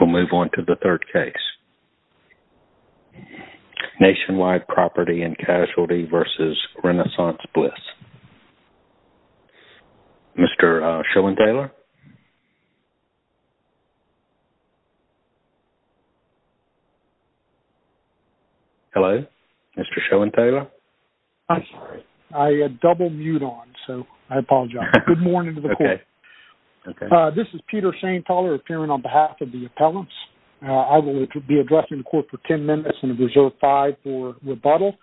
We'll move on to the third case. Nationwide Property & Casualty v. Renaissance Bliss. Mr. Schoenthaler? Hello? Mr. Schoenthaler? I double-mute on, so I apologize. Good morning to the court. This is Peter Schoenthaler appearing on behalf of the appellants. I will be addressing the court for 10 minutes and reserve five for rebuttal.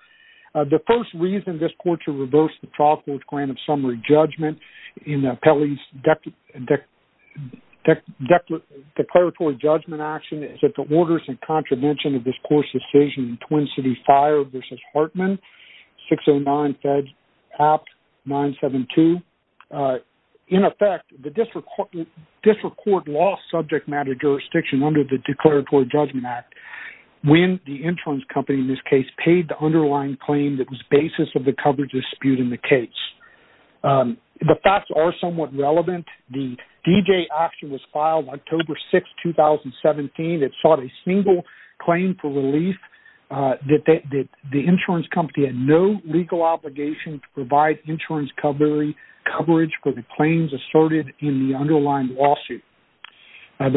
The first reason this court should reverse the trial court's grant of summary judgment in Pelley's declaratory judgment action is that the orders and contravention of this district court lost subject matter jurisdiction under the Declaratory Judgment Act when the insurance company in this case paid the underlying claim that was the basis of the coverage dispute in the case. The facts are somewhat relevant. The D-J action was filed October 6, 2017. It sought a single claim for relief that the insurance company had no legal obligation to provide insurance coverage for the claims asserted in the underlying lawsuit. I'm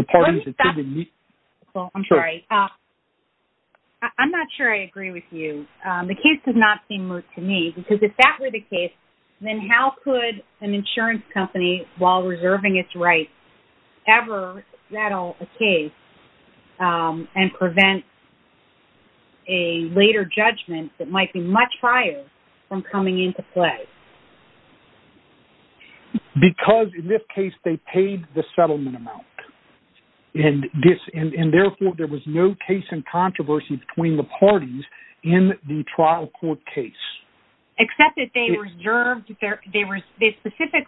not sure I agree with you. The case does not seem moot to me because if that were the case, then how could an insurance company, while reserving its rights, ever settle a case and prevent a later judgment that might be much prior from coming into play? Because in this case they paid the settlement amount and therefore there was no case in controversy between the parties in the trial court case. Except that they reserved, they between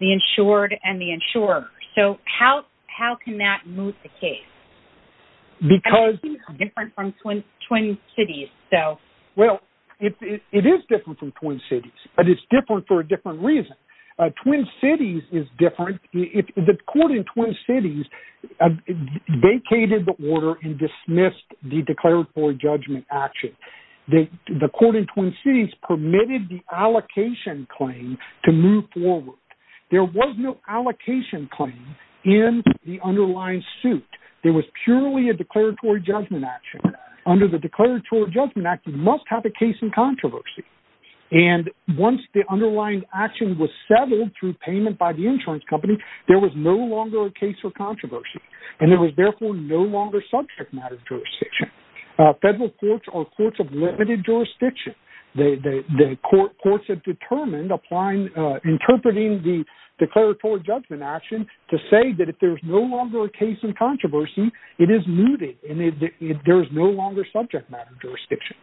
the insured and the insurer. So how can that moot the case? Because it's different from Twin Cities. Well, it is different from Twin Cities, but it's different for a different reason. Twin Cities is different. The court in Twin Cities vacated the order and dismissed the declaratory judgment action. The court in Twin Cities permitted the allocation claim to move forward. There was no allocation claim in the underlying suit. There was purely a declaratory judgment action. Under the declaratory judgment act, you must have a case in controversy. And once the underlying action was settled through payment by the insurance company, there was no longer a case for controversy. And there was therefore no longer subject matter jurisdiction. Federal courts are courts of limited jurisdiction. The courts have determined applying, interpreting the declaratory judgment action to say that if there's no longer a case in controversy, it is mooted and there is no longer subject matter jurisdiction.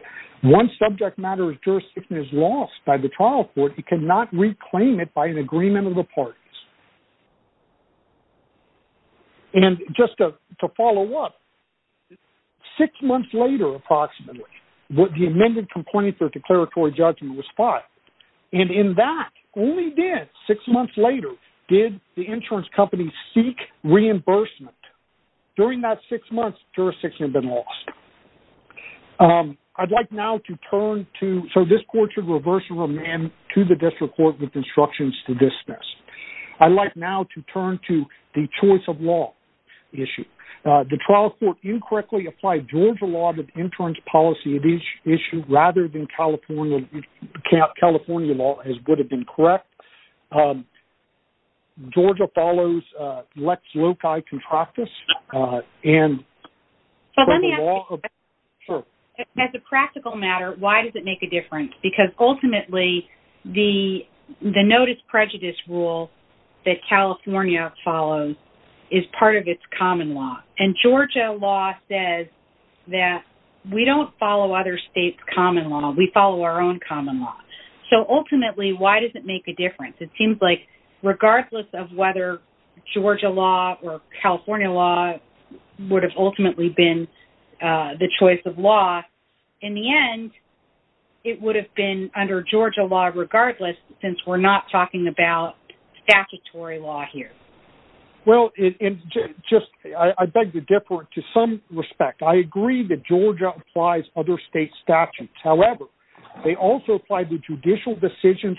Once subject matter jurisdiction is lost by the trial court, it cannot reclaim it by an agreement of the parties. And just to follow up, six months later approximately, what the amended complaint for declaratory judgment was filed. And in that, only then, six months later, did the insurance company seek reimbursement. During that six months, jurisdiction had been lost. I'd like now to turn to, so this court should reverse and amend to the district court with instructions to dismiss. I'd like now to turn to the choice of law issue. The trial court incorrectly applied Georgia law to the insurance policy of each issue rather than California law as would have been correct. Georgia follows Lex Loci contractus and- So let me ask you, as a practical matter, why does it make a difference? Because ultimately, the notice prejudice rule that California follows is part of its common law. And Georgia law says that we don't follow other states' common law. We follow our own common law. So ultimately, why does it make a difference? It seems like regardless of whether Georgia law or California law would have ultimately been the choice of law, in the end, it would have been under Georgia law regardless since we're not talking about statutory law here. Well, I beg to differ to some respect. I agree that Georgia applies other states' statutes. However, they also apply the judicial decisions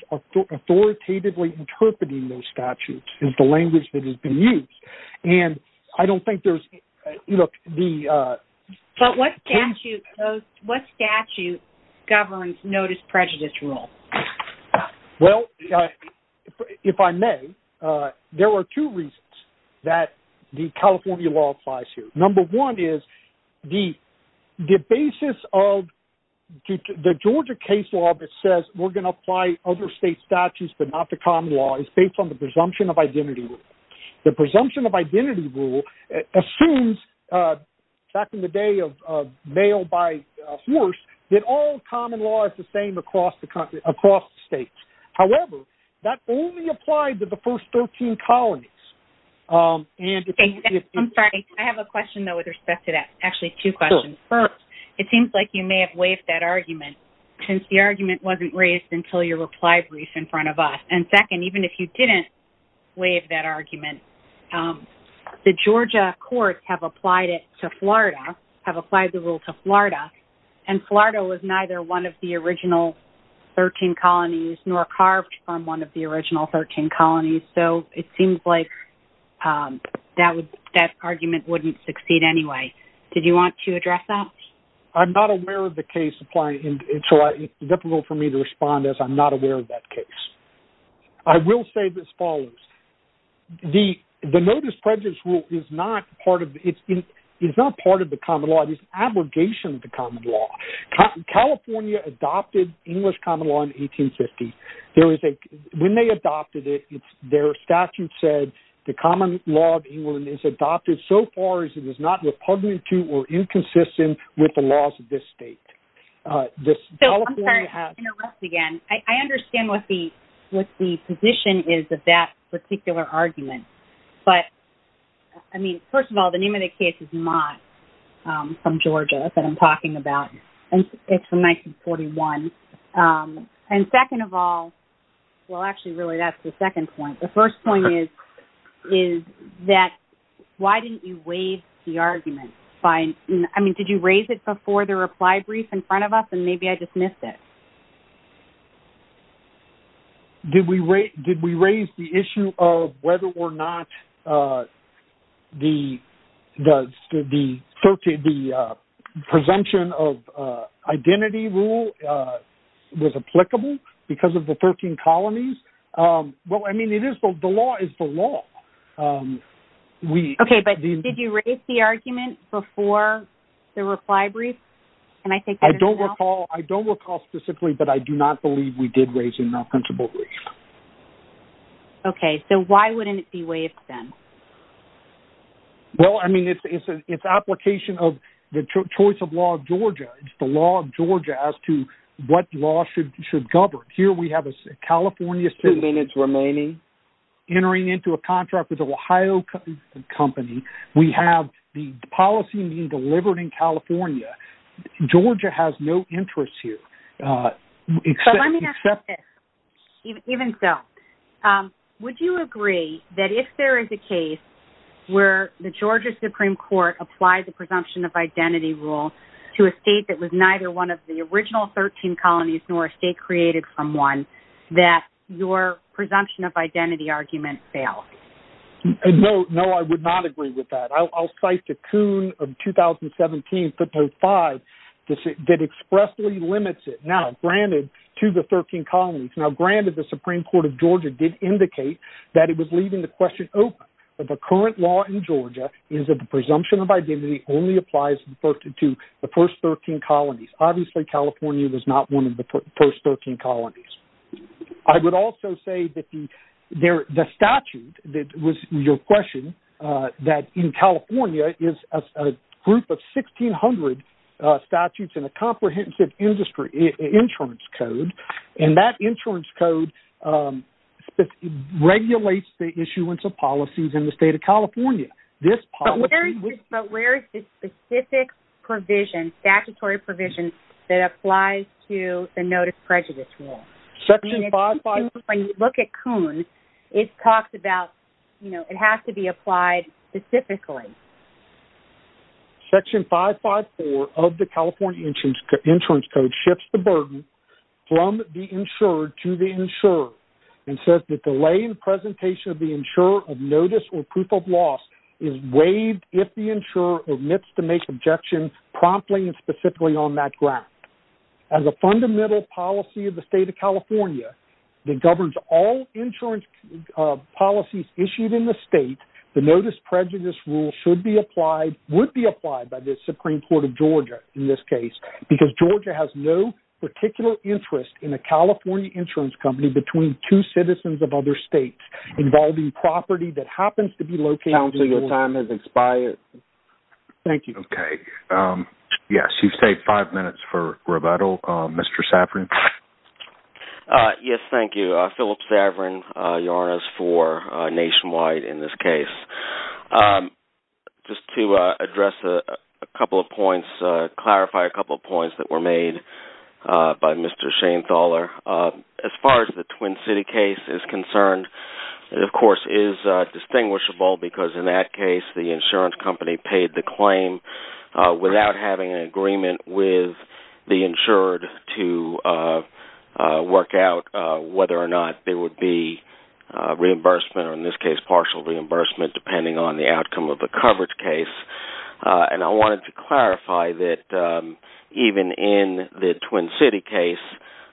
authoritatively interpreting those statutes is the language that has been used. And I don't think there's- What statute governs notice prejudice rule? Well, if I may, there are two reasons that the California law applies here. Number one is the basis of the Georgia case law that says we're going to apply other states' statutes but not the identity rule. The presumption of identity rule assumes, back in the day of mail by horse, that all common law is the same across the states. However, that only applied to the first 13 colonies. I'm sorry, I have a question though with respect to that. Actually, two questions. First, it seems like you may have waived that argument since the argument wasn't raised until your reply brief in front of us. And second, even if you didn't waive that argument, the Georgia courts have applied it to Florida, have applied the rule to Florida, and Florida was neither one of the original 13 colonies nor carved from one of the original 13 colonies. So, it seems like that argument wouldn't succeed anyway. Did you want to address that? I'm not aware of the case applying, so it's difficult for me to respond as I'm not aware of that case. I will say this follows. The notice prejudice rule is not part of the common law. It is an abrogation of the common law. California adopted English common law in 1850. When they adopted it, their statute said the common law of England is adopted so far as it is not repugnant or inconsistent with the laws of this state. So, I'm sorry to interrupt again. I understand what the position is of that particular argument. But, I mean, first of all, the name of the case is not from Georgia that I'm talking about. It's from 1941. And second of all, well, actually, that's the second point. The first point is that why didn't you waive the argument? I mean, did you raise it before the reply brief in front of us? And maybe I dismissed it. Did we raise the issue of whether or not the presumption of identity rule was applicable because of the 13 colonies? Well, I mean, the law is the law. Okay. But did you raise the argument before the reply brief? I don't recall specifically, but I do not believe we did raise it in our principle brief. Okay. So, why wouldn't it be waived then? Well, I mean, it's application of the choice of law of Georgia. It's the law of Georgia as to what law should govern. Here, we have a California state entering into a contract with an Ohio company. We have the policy being delivered in California. Georgia has no interest here. But let me ask you this, even so, would you agree that if there is a case where the Georgia Supreme Court applied the presumption of identity rule to a state that was neither one of the original 13 colonies, nor a state created from one, that your presumption of identity argument fails? No, no, I would not agree with that. I'll cite the Coon of 2017 505 that expressly limits it now, granted, to the 13 colonies. Now, granted, the Supreme Court of Georgia did indicate that it was leaving the question open. But the current law in Georgia is that the presumption of identity only applies to the first 13 colonies. Obviously, California was not one of the first 13 colonies. I would also say that the statute that was your question, that in California is a group of 1,600 statutes and a comprehensive industry insurance code. And that insurance code regulates the issuance of policies in the state of California. But where is the specific provision, statutory provision, that applies to the notice prejudice rule? When you look at Coon, it talks about, you know, it has to be applied specifically. Section 554 of the California insurance code shifts the burden from the insured to the insurer and says that delay in presentation of the insurer of notice or proof of loss is waived if the insurer admits to make objections promptly and specifically on that ground. As a fundamental policy of the state of California that governs all insurance policies issued in the state, the notice prejudice rule should be applied, would be applied by the Supreme Court of Georgia in this case, because Georgia has no particular interest in a California insurance company between two citizens of other states involving property that happens to be located in the... Counsel, your time has expired. Thank you. Okay. Yes, you've saved five minutes for rebuttal. Mr. Saverin? Yes, thank you. Philip Saverin, YARNS for Nationwide in this case. Just to address a couple of points, clarify a couple of points that were made by Mr. Schainthaler. As far as the Twin City case is concerned, it of course is distinguishable because in that case the insurance company paid the claim without having an agreement with the insured to work out whether or not there would be reimbursement, or in this case partial reimbursement, depending on the outcome of the coverage case. And I wanted to clarify that even in the Twin City case,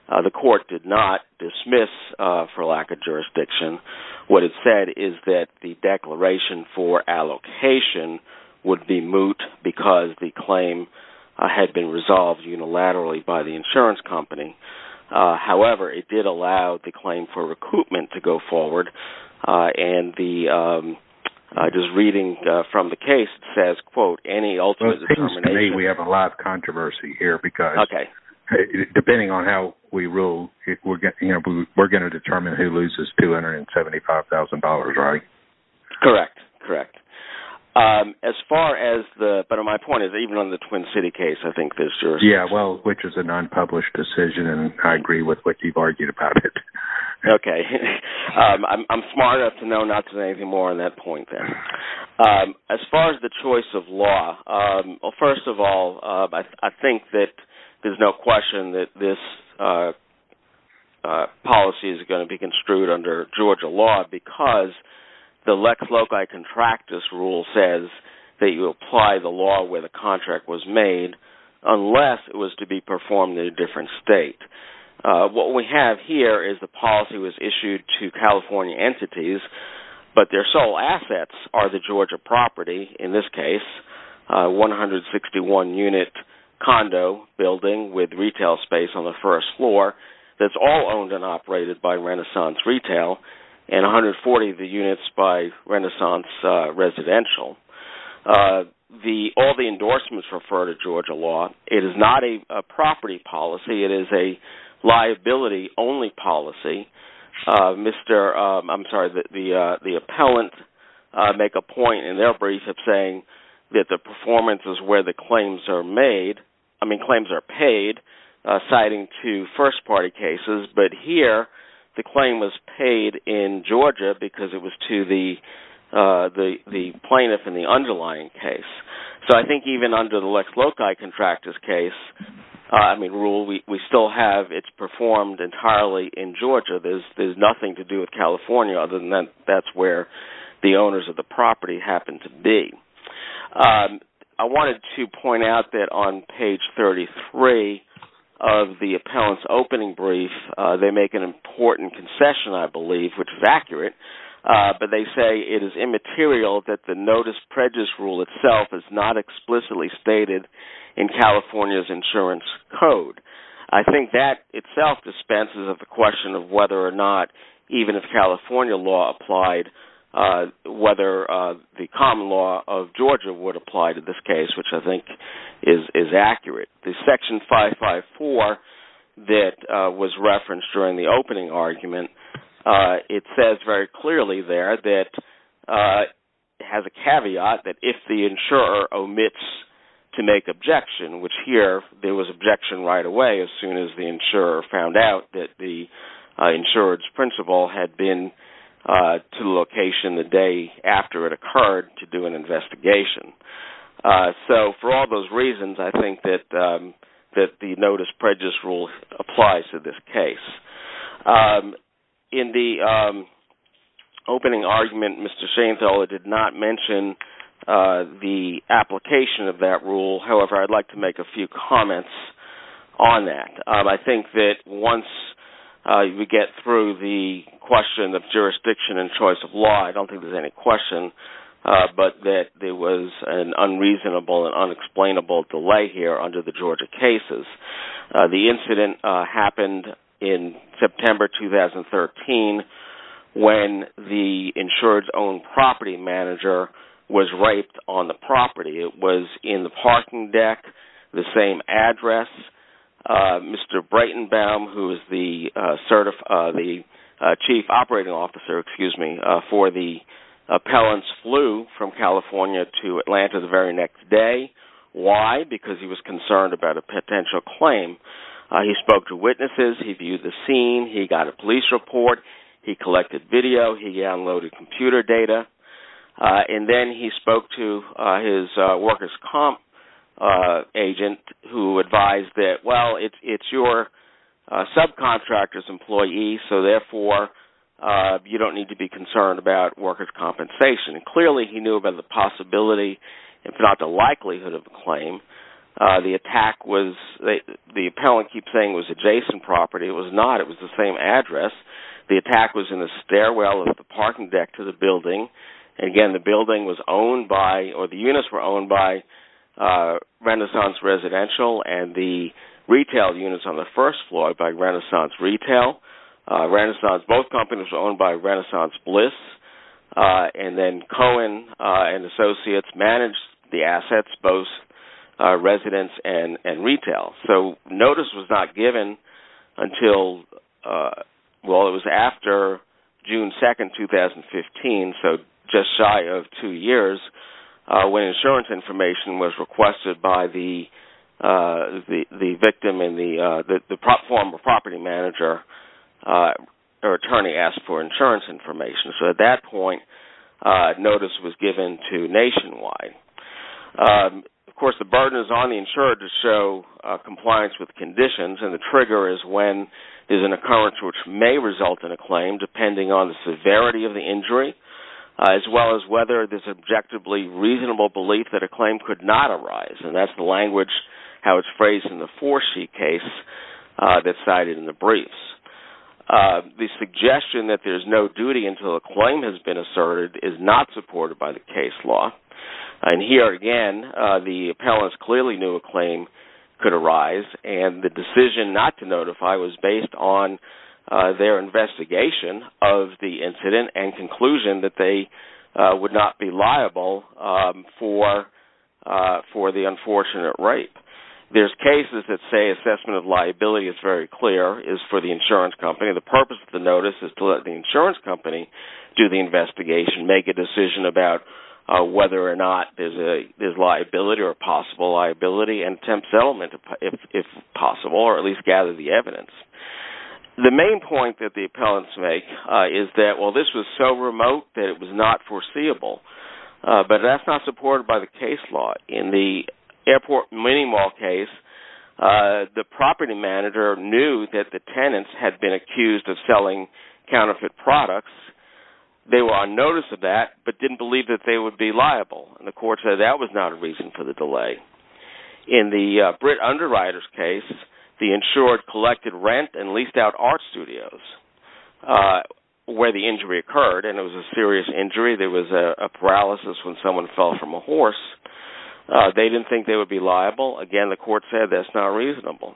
the court did not dismiss for lack of jurisdiction. What it said is that the declaration for allocation would be moot because the claim had been resolved unilaterally by the insurance company. However, it did allow the claim for recoupment to go forward. And the... I was reading from the case, it says, quote, to me we have a lot of controversy here because depending on how we rule, we're going to determine who loses $275,000, right? Correct, correct. As far as the... But my point is even on the Twin City case, I think there's... Yeah, well, which is an unpublished decision and I agree with what you've argued about it. Okay. I'm smart enough to know not to say anything more on that point then. As far as the choice of law, well, first of all, I think that there's no question that this policy is going to be construed under Georgia law because the Lex Loci Contractus rule says that you apply the law where the contract was made unless it was to be performed in a different state. What we have here is the policy was issued to California entities, but their sole assets are the Georgia property, in this case, 161-unit condo building with retail space on the first floor. That's all owned and operated by Renaissance Retail and 140 of the units by Renaissance Residential. All the endorsements refer to Georgia law. It is not a property policy. It is liability-only policy. I'm sorry, the appellant make a point in their brief of saying that the performance is where the claims are made... I mean, claims are paid, citing two first-party cases. But here, the claim was paid in Georgia because it was to the plaintiff in the underlying case. So I think even under the Lex Loci Contractus case rule, we still have it performed entirely in Georgia. There's nothing to do with California other than that's where the owners of the property happen to be. I wanted to point out that on page 33 of the appellant's opening brief, they make an important concession, I believe, which is accurate, but they say it is immaterial that the notice prejudice rule itself is not explicitly stated in California's insurance code. I think that itself dispenses with the question of whether or not, even if California law applied, whether the common law of Georgia would apply to this case, which I think is accurate. The section 554 that was referenced during the opening argument, it says very clearly there that has a caveat that if the insurer omits to make objection, which here, there was objection right away as soon as the insurer found out that the insurance principal had been to the location the day after it occurred to do an investigation. So for all those reasons, I think that the notice prejudice rule applies to this case. In the opening argument, Mr. Shainfield did not mention the application of that rule. However, I'd like to make a few comments on that. I think that once we get through the question of jurisdiction and choice of law, I don't think there's any question, but that there was an unreasonable and unexplainable delay here under the Georgia cases. The incident happened in September 2013 when the insured's own property manager was raped on the property. It was in the parking deck, the same address. Mr. Breitenbaum, who is the chief operating officer for the appellants, flew from California to Atlanta the very next day. Why? Because he was concerned about a potential claim. He spoke to witnesses, he viewed the scene, he got a police report, he collected video, he downloaded computer data, and then he spoke to his workers' comp agent who advised that, well, it's your subcontractor's employee, so therefore you don't need to be concerned about workers' compensation. Clearly, he knew about the possibility, if not the likelihood, of the claim. The appellant kept saying it was adjacent property. It was not. It was the same address. The attack was in the stairwell of the parking deck to the building. Again, the building was owned by, or the units were owned by, Renaissance Residential and the retail units on the first floor by Renaissance Retail. Both companies were owned by Renaissance Bliss. Cohen and Associates managed the assets, both residents and retail. Notice was not given until, well, it was after June 2, 2015, so just shy of two years, when insurance information was requested by the victim and the property manager. Their attorney asked for insurance information, so at that point, notice was given to Nationwide. Of course, the burden is on the insurer to show compliance with conditions, and the trigger is when an occurrence which may result in a claim, depending on the severity of the injury, as well as whether there's an objectively reasonable belief that a claim could not arise. That's the language, how it's phrased in the Forsyth case that's cited in the briefs. The suggestion that there's no duty until a claim has been asserted is not supported by the case law. Here again, the appellants clearly knew a claim could arise, and the decision not to notify was based on their investigation of the incident and conclusion that they would not be liable for the unfortunate rape. There's cases that say assessment of liability is very clear, is for the insurance company. The purpose of the notice is to let the insurance company do the investigation, make a decision about whether or not there's liability or possible liability, and attempt settlement, if possible, or at least gather the evidence. The main point that the appellants make is that, well, this was so remote that it was not foreseeable, but that's not supported by the case law. In the airport mini-mall case, the property manager knew that the tenants had been accused of selling counterfeit products. They were on notice of that, but didn't believe that they would be liable. The court said that was not a reason for the delay. In the Britt Underwriters case, the insured collected rent and leased out art studios where the injury occurred, and it was a serious injury. There was a paralysis when someone fell from a horse. They didn't think they would be liable. Again, the court said that's not reasonable.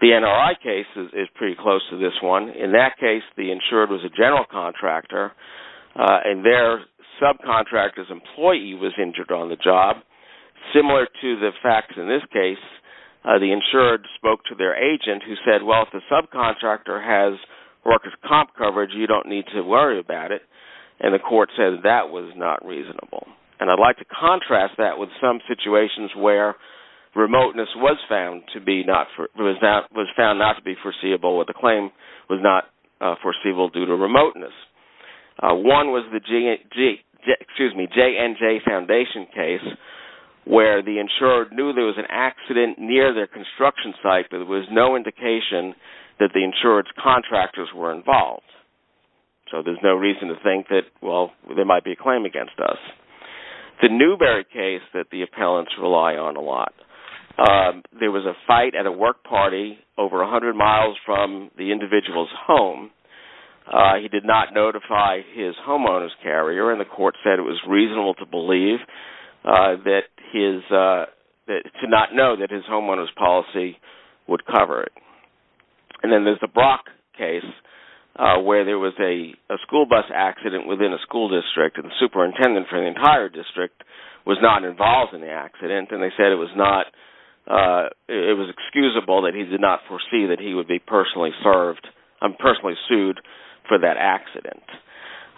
The NRI case is pretty close to this one. In that case, the insured was a general contractor, and their subcontractor's employee was injured on the job. Similar to the facts in this case, the insured spoke to their agent who said, well, if the subcontractor has workers' comp coverage, you don't need to worry about it, and the court said that was not reasonable. I'd like to contrast that with some situations where remoteness was found not to be foreseeable, or the claim was not foreseeable due to remoteness. One was the JNJ Foundation case where the insured knew there was an accident near their construction site, but there was no indication that the insured's contractors were involved. So there's no reason to think that, well, there might be a claim against us. The Newberry case that the appellants rely on a lot. There was a fight at a work party over 100 miles from the individual's home. He did not notify his homeowner's carrier, and the court said it was reasonable to believe that his...to not know that his homeowner's policy would cover it. And then there's the Brock case where there was a school bus accident within a school district, and the superintendent for the entire district was not involved in the accident, and they said it was not...it was excusable that he did not foresee that he would be personally served and personally sued for that accident.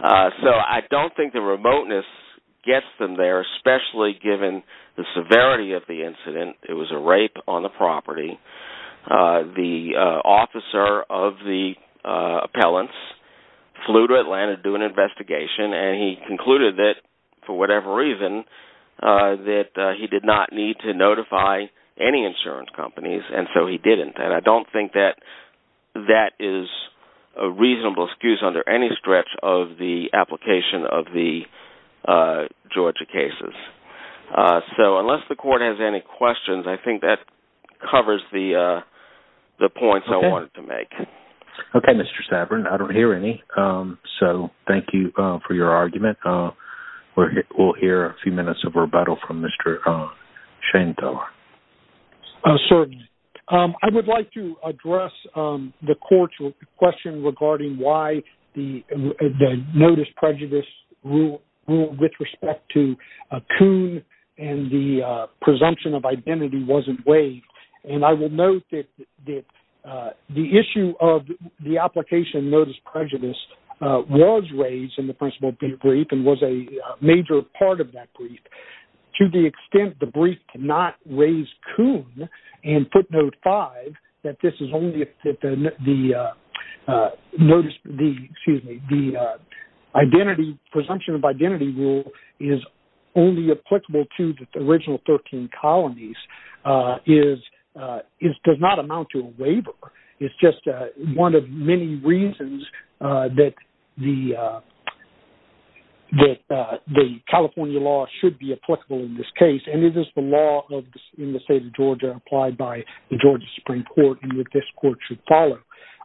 So I don't think the remoteness gets them there, especially given the severity of the incident. It was a rape on the property. The officer of the appellants flew to Atlanta to do an investigation, and he concluded that, for whatever reason, that he did not need to notify any insurance companies, and so he didn't. And I don't think that that is a reasonable excuse under any stretch of the application of the Georgia cases. So unless the court has any questions, I think that covers the points I wanted to make. Okay, Mr. Saverin. I don't hear any, so thank you for your argument. We'll hear a few minutes of rebuttal from Mr. Schoenteller. Sir, I would like to address the court's question regarding why the notice prejudice rule with respect to Kuhn and the presumption of the application notice prejudice was raised in the principal brief and was a major part of that brief. To the extent the brief did not raise Kuhn and footnote 5, that this is only that the notice...excuse me...the identity...presumption of identity rule is only applicable to the original 13 colonies does not amount to a waiver. It's just one of many reasons that the California law should be applicable in this case, and it is the law in the state of Georgia applied by the Georgia Supreme Court, and this court should follow.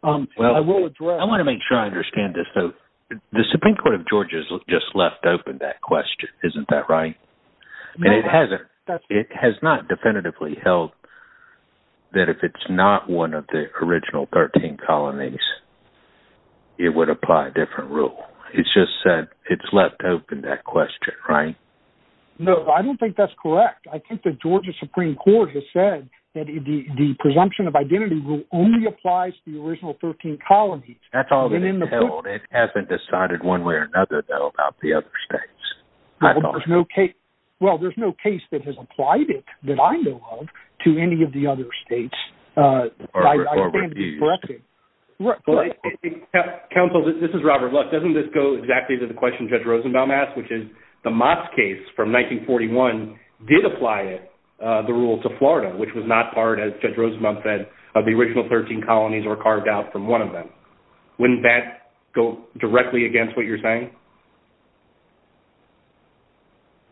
I will address... I want to make sure I understand this. The Supreme Court of Georgia has just left open that question, isn't that right? And it hasn't. It has not definitively held that if it's not one of the original 13 colonies, it would apply a different rule. It's just said it's left open that question, right? No, I don't think that's correct. I think the Georgia Supreme Court has said that the presumption of identity rule only applies to the original 13 colonies. That's all that it's held. It hasn't decided one way or another, though, about the other states. Well, there's no case that has applied it that I know of to any of the other states. Counsel, this is Robert Luck. Doesn't this go exactly to the question Judge Rosenbaum asked, which is the Moss case from 1941 did apply the rule to Florida, which was not part, as Judge Rosenbaum said, of the original 13 colonies or carved out from one of them. Wouldn't that go directly against what you're saying?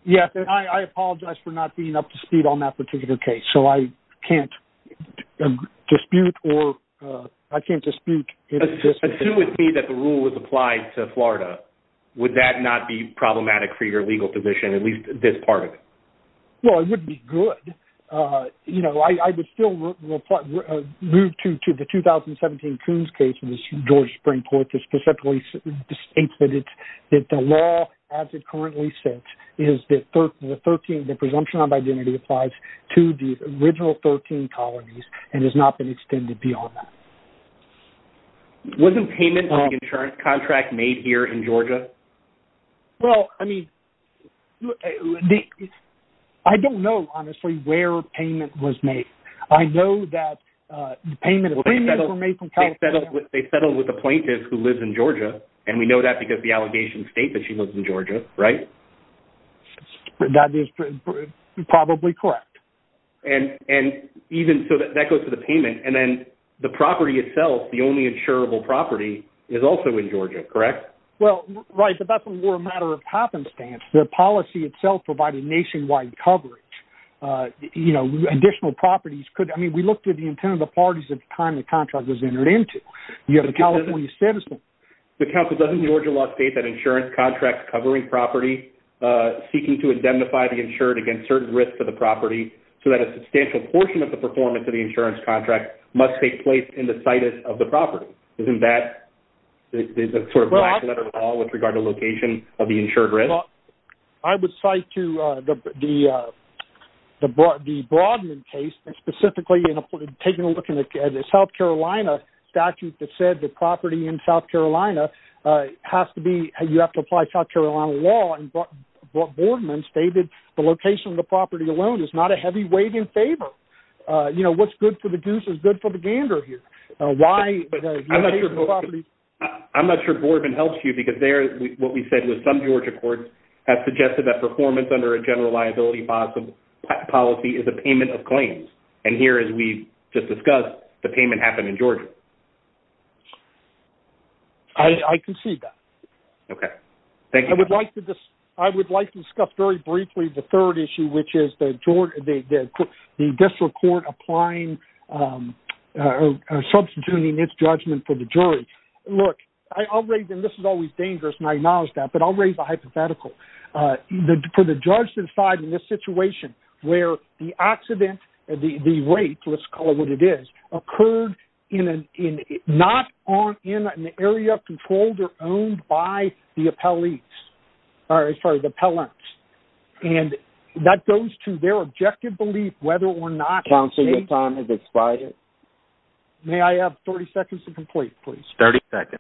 Yes, I apologize for not being up to speed on that particular case. So I can't dispute or I can't dispute. Assume with me that the rule was applied to Florida. Would that not be problematic for your legal position, at least this part of it? Well, it would be good. You know, I would still move to the 2017 Coons case in the Georgia Supreme Court to specifically state that the law as it currently sits is that the presumption of identity applies to the original 13 colonies and has not been extended beyond that. Wasn't payment on the insurance contract made here in Georgia? Well, I mean, I don't know, honestly, where payment was made. I know that the payment of premiums were made from California. They settled with a plaintiff who lives in Georgia, and we know that because the allegations state that she lives in Georgia, right? That is probably correct. And even so, that goes to the payment and then the property itself, the only insurable property, is also in Georgia, correct? Well, right, but that's more a matter of happenstance. The policy itself provided nationwide coverage. You know, additional properties could, I mean, we looked at the intent of the parties at the time the contract was entered into. You have a California citizen. The counsel doesn't in the Georgia law state that insurance contracts covering property seeking to indemnify the insured against certain risks to the property so that a substantial portion of the performance of the insurance contract must take place in the situs of the law with regard to location of the insured risk? I would cite to the Broadman case, specifically taking a look at the South Carolina statute that said the property in South Carolina has to be, you have to apply South Carolina law, and Broadman stated the location of the property alone is not a heavy weight in favor. You know, what's good for the goose is good for the gander here. I'm not sure Broadman helps you because there, what we said was some Georgia courts have suggested that performance under a general liability policy is a payment of claims, and here, as we just discussed, the payment happened in Georgia. I concede that. Okay, thank you. I would like to discuss very briefly the third issue, which is the district court applying, substituting its judgment for the jury. Look, I'll raise, and this is always dangerous, and I acknowledge that, but I'll raise a hypothetical. For the judge to decide in this situation where the accident, the rate, let's call it what it is, occurred not in an area controlled or owned by the appellants, and that goes to their objective belief whether or not- Counselor, your time has expired. May I have 30 seconds to complete, please? 30 seconds.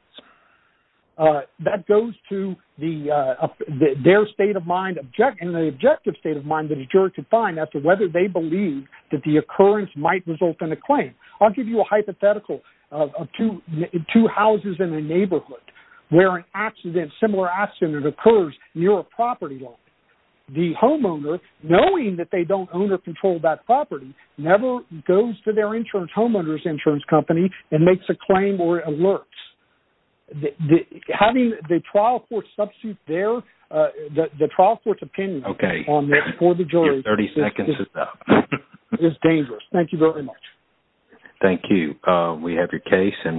That goes to their state of mind, and the objective state of mind that a juror could find whether they believe that the occurrence might result in a claim. I'll give you a hypothetical of two houses in a neighborhood where an accident, similar accident, occurs near a property line. The homeowner, knowing that they don't own or control that property, never goes to their insurance homeowner's insurance company and makes a claim or alerts. Having the trial substitute there, the trial court's opinion for the jury is dangerous. Thank you very much. Thank you. We have your case.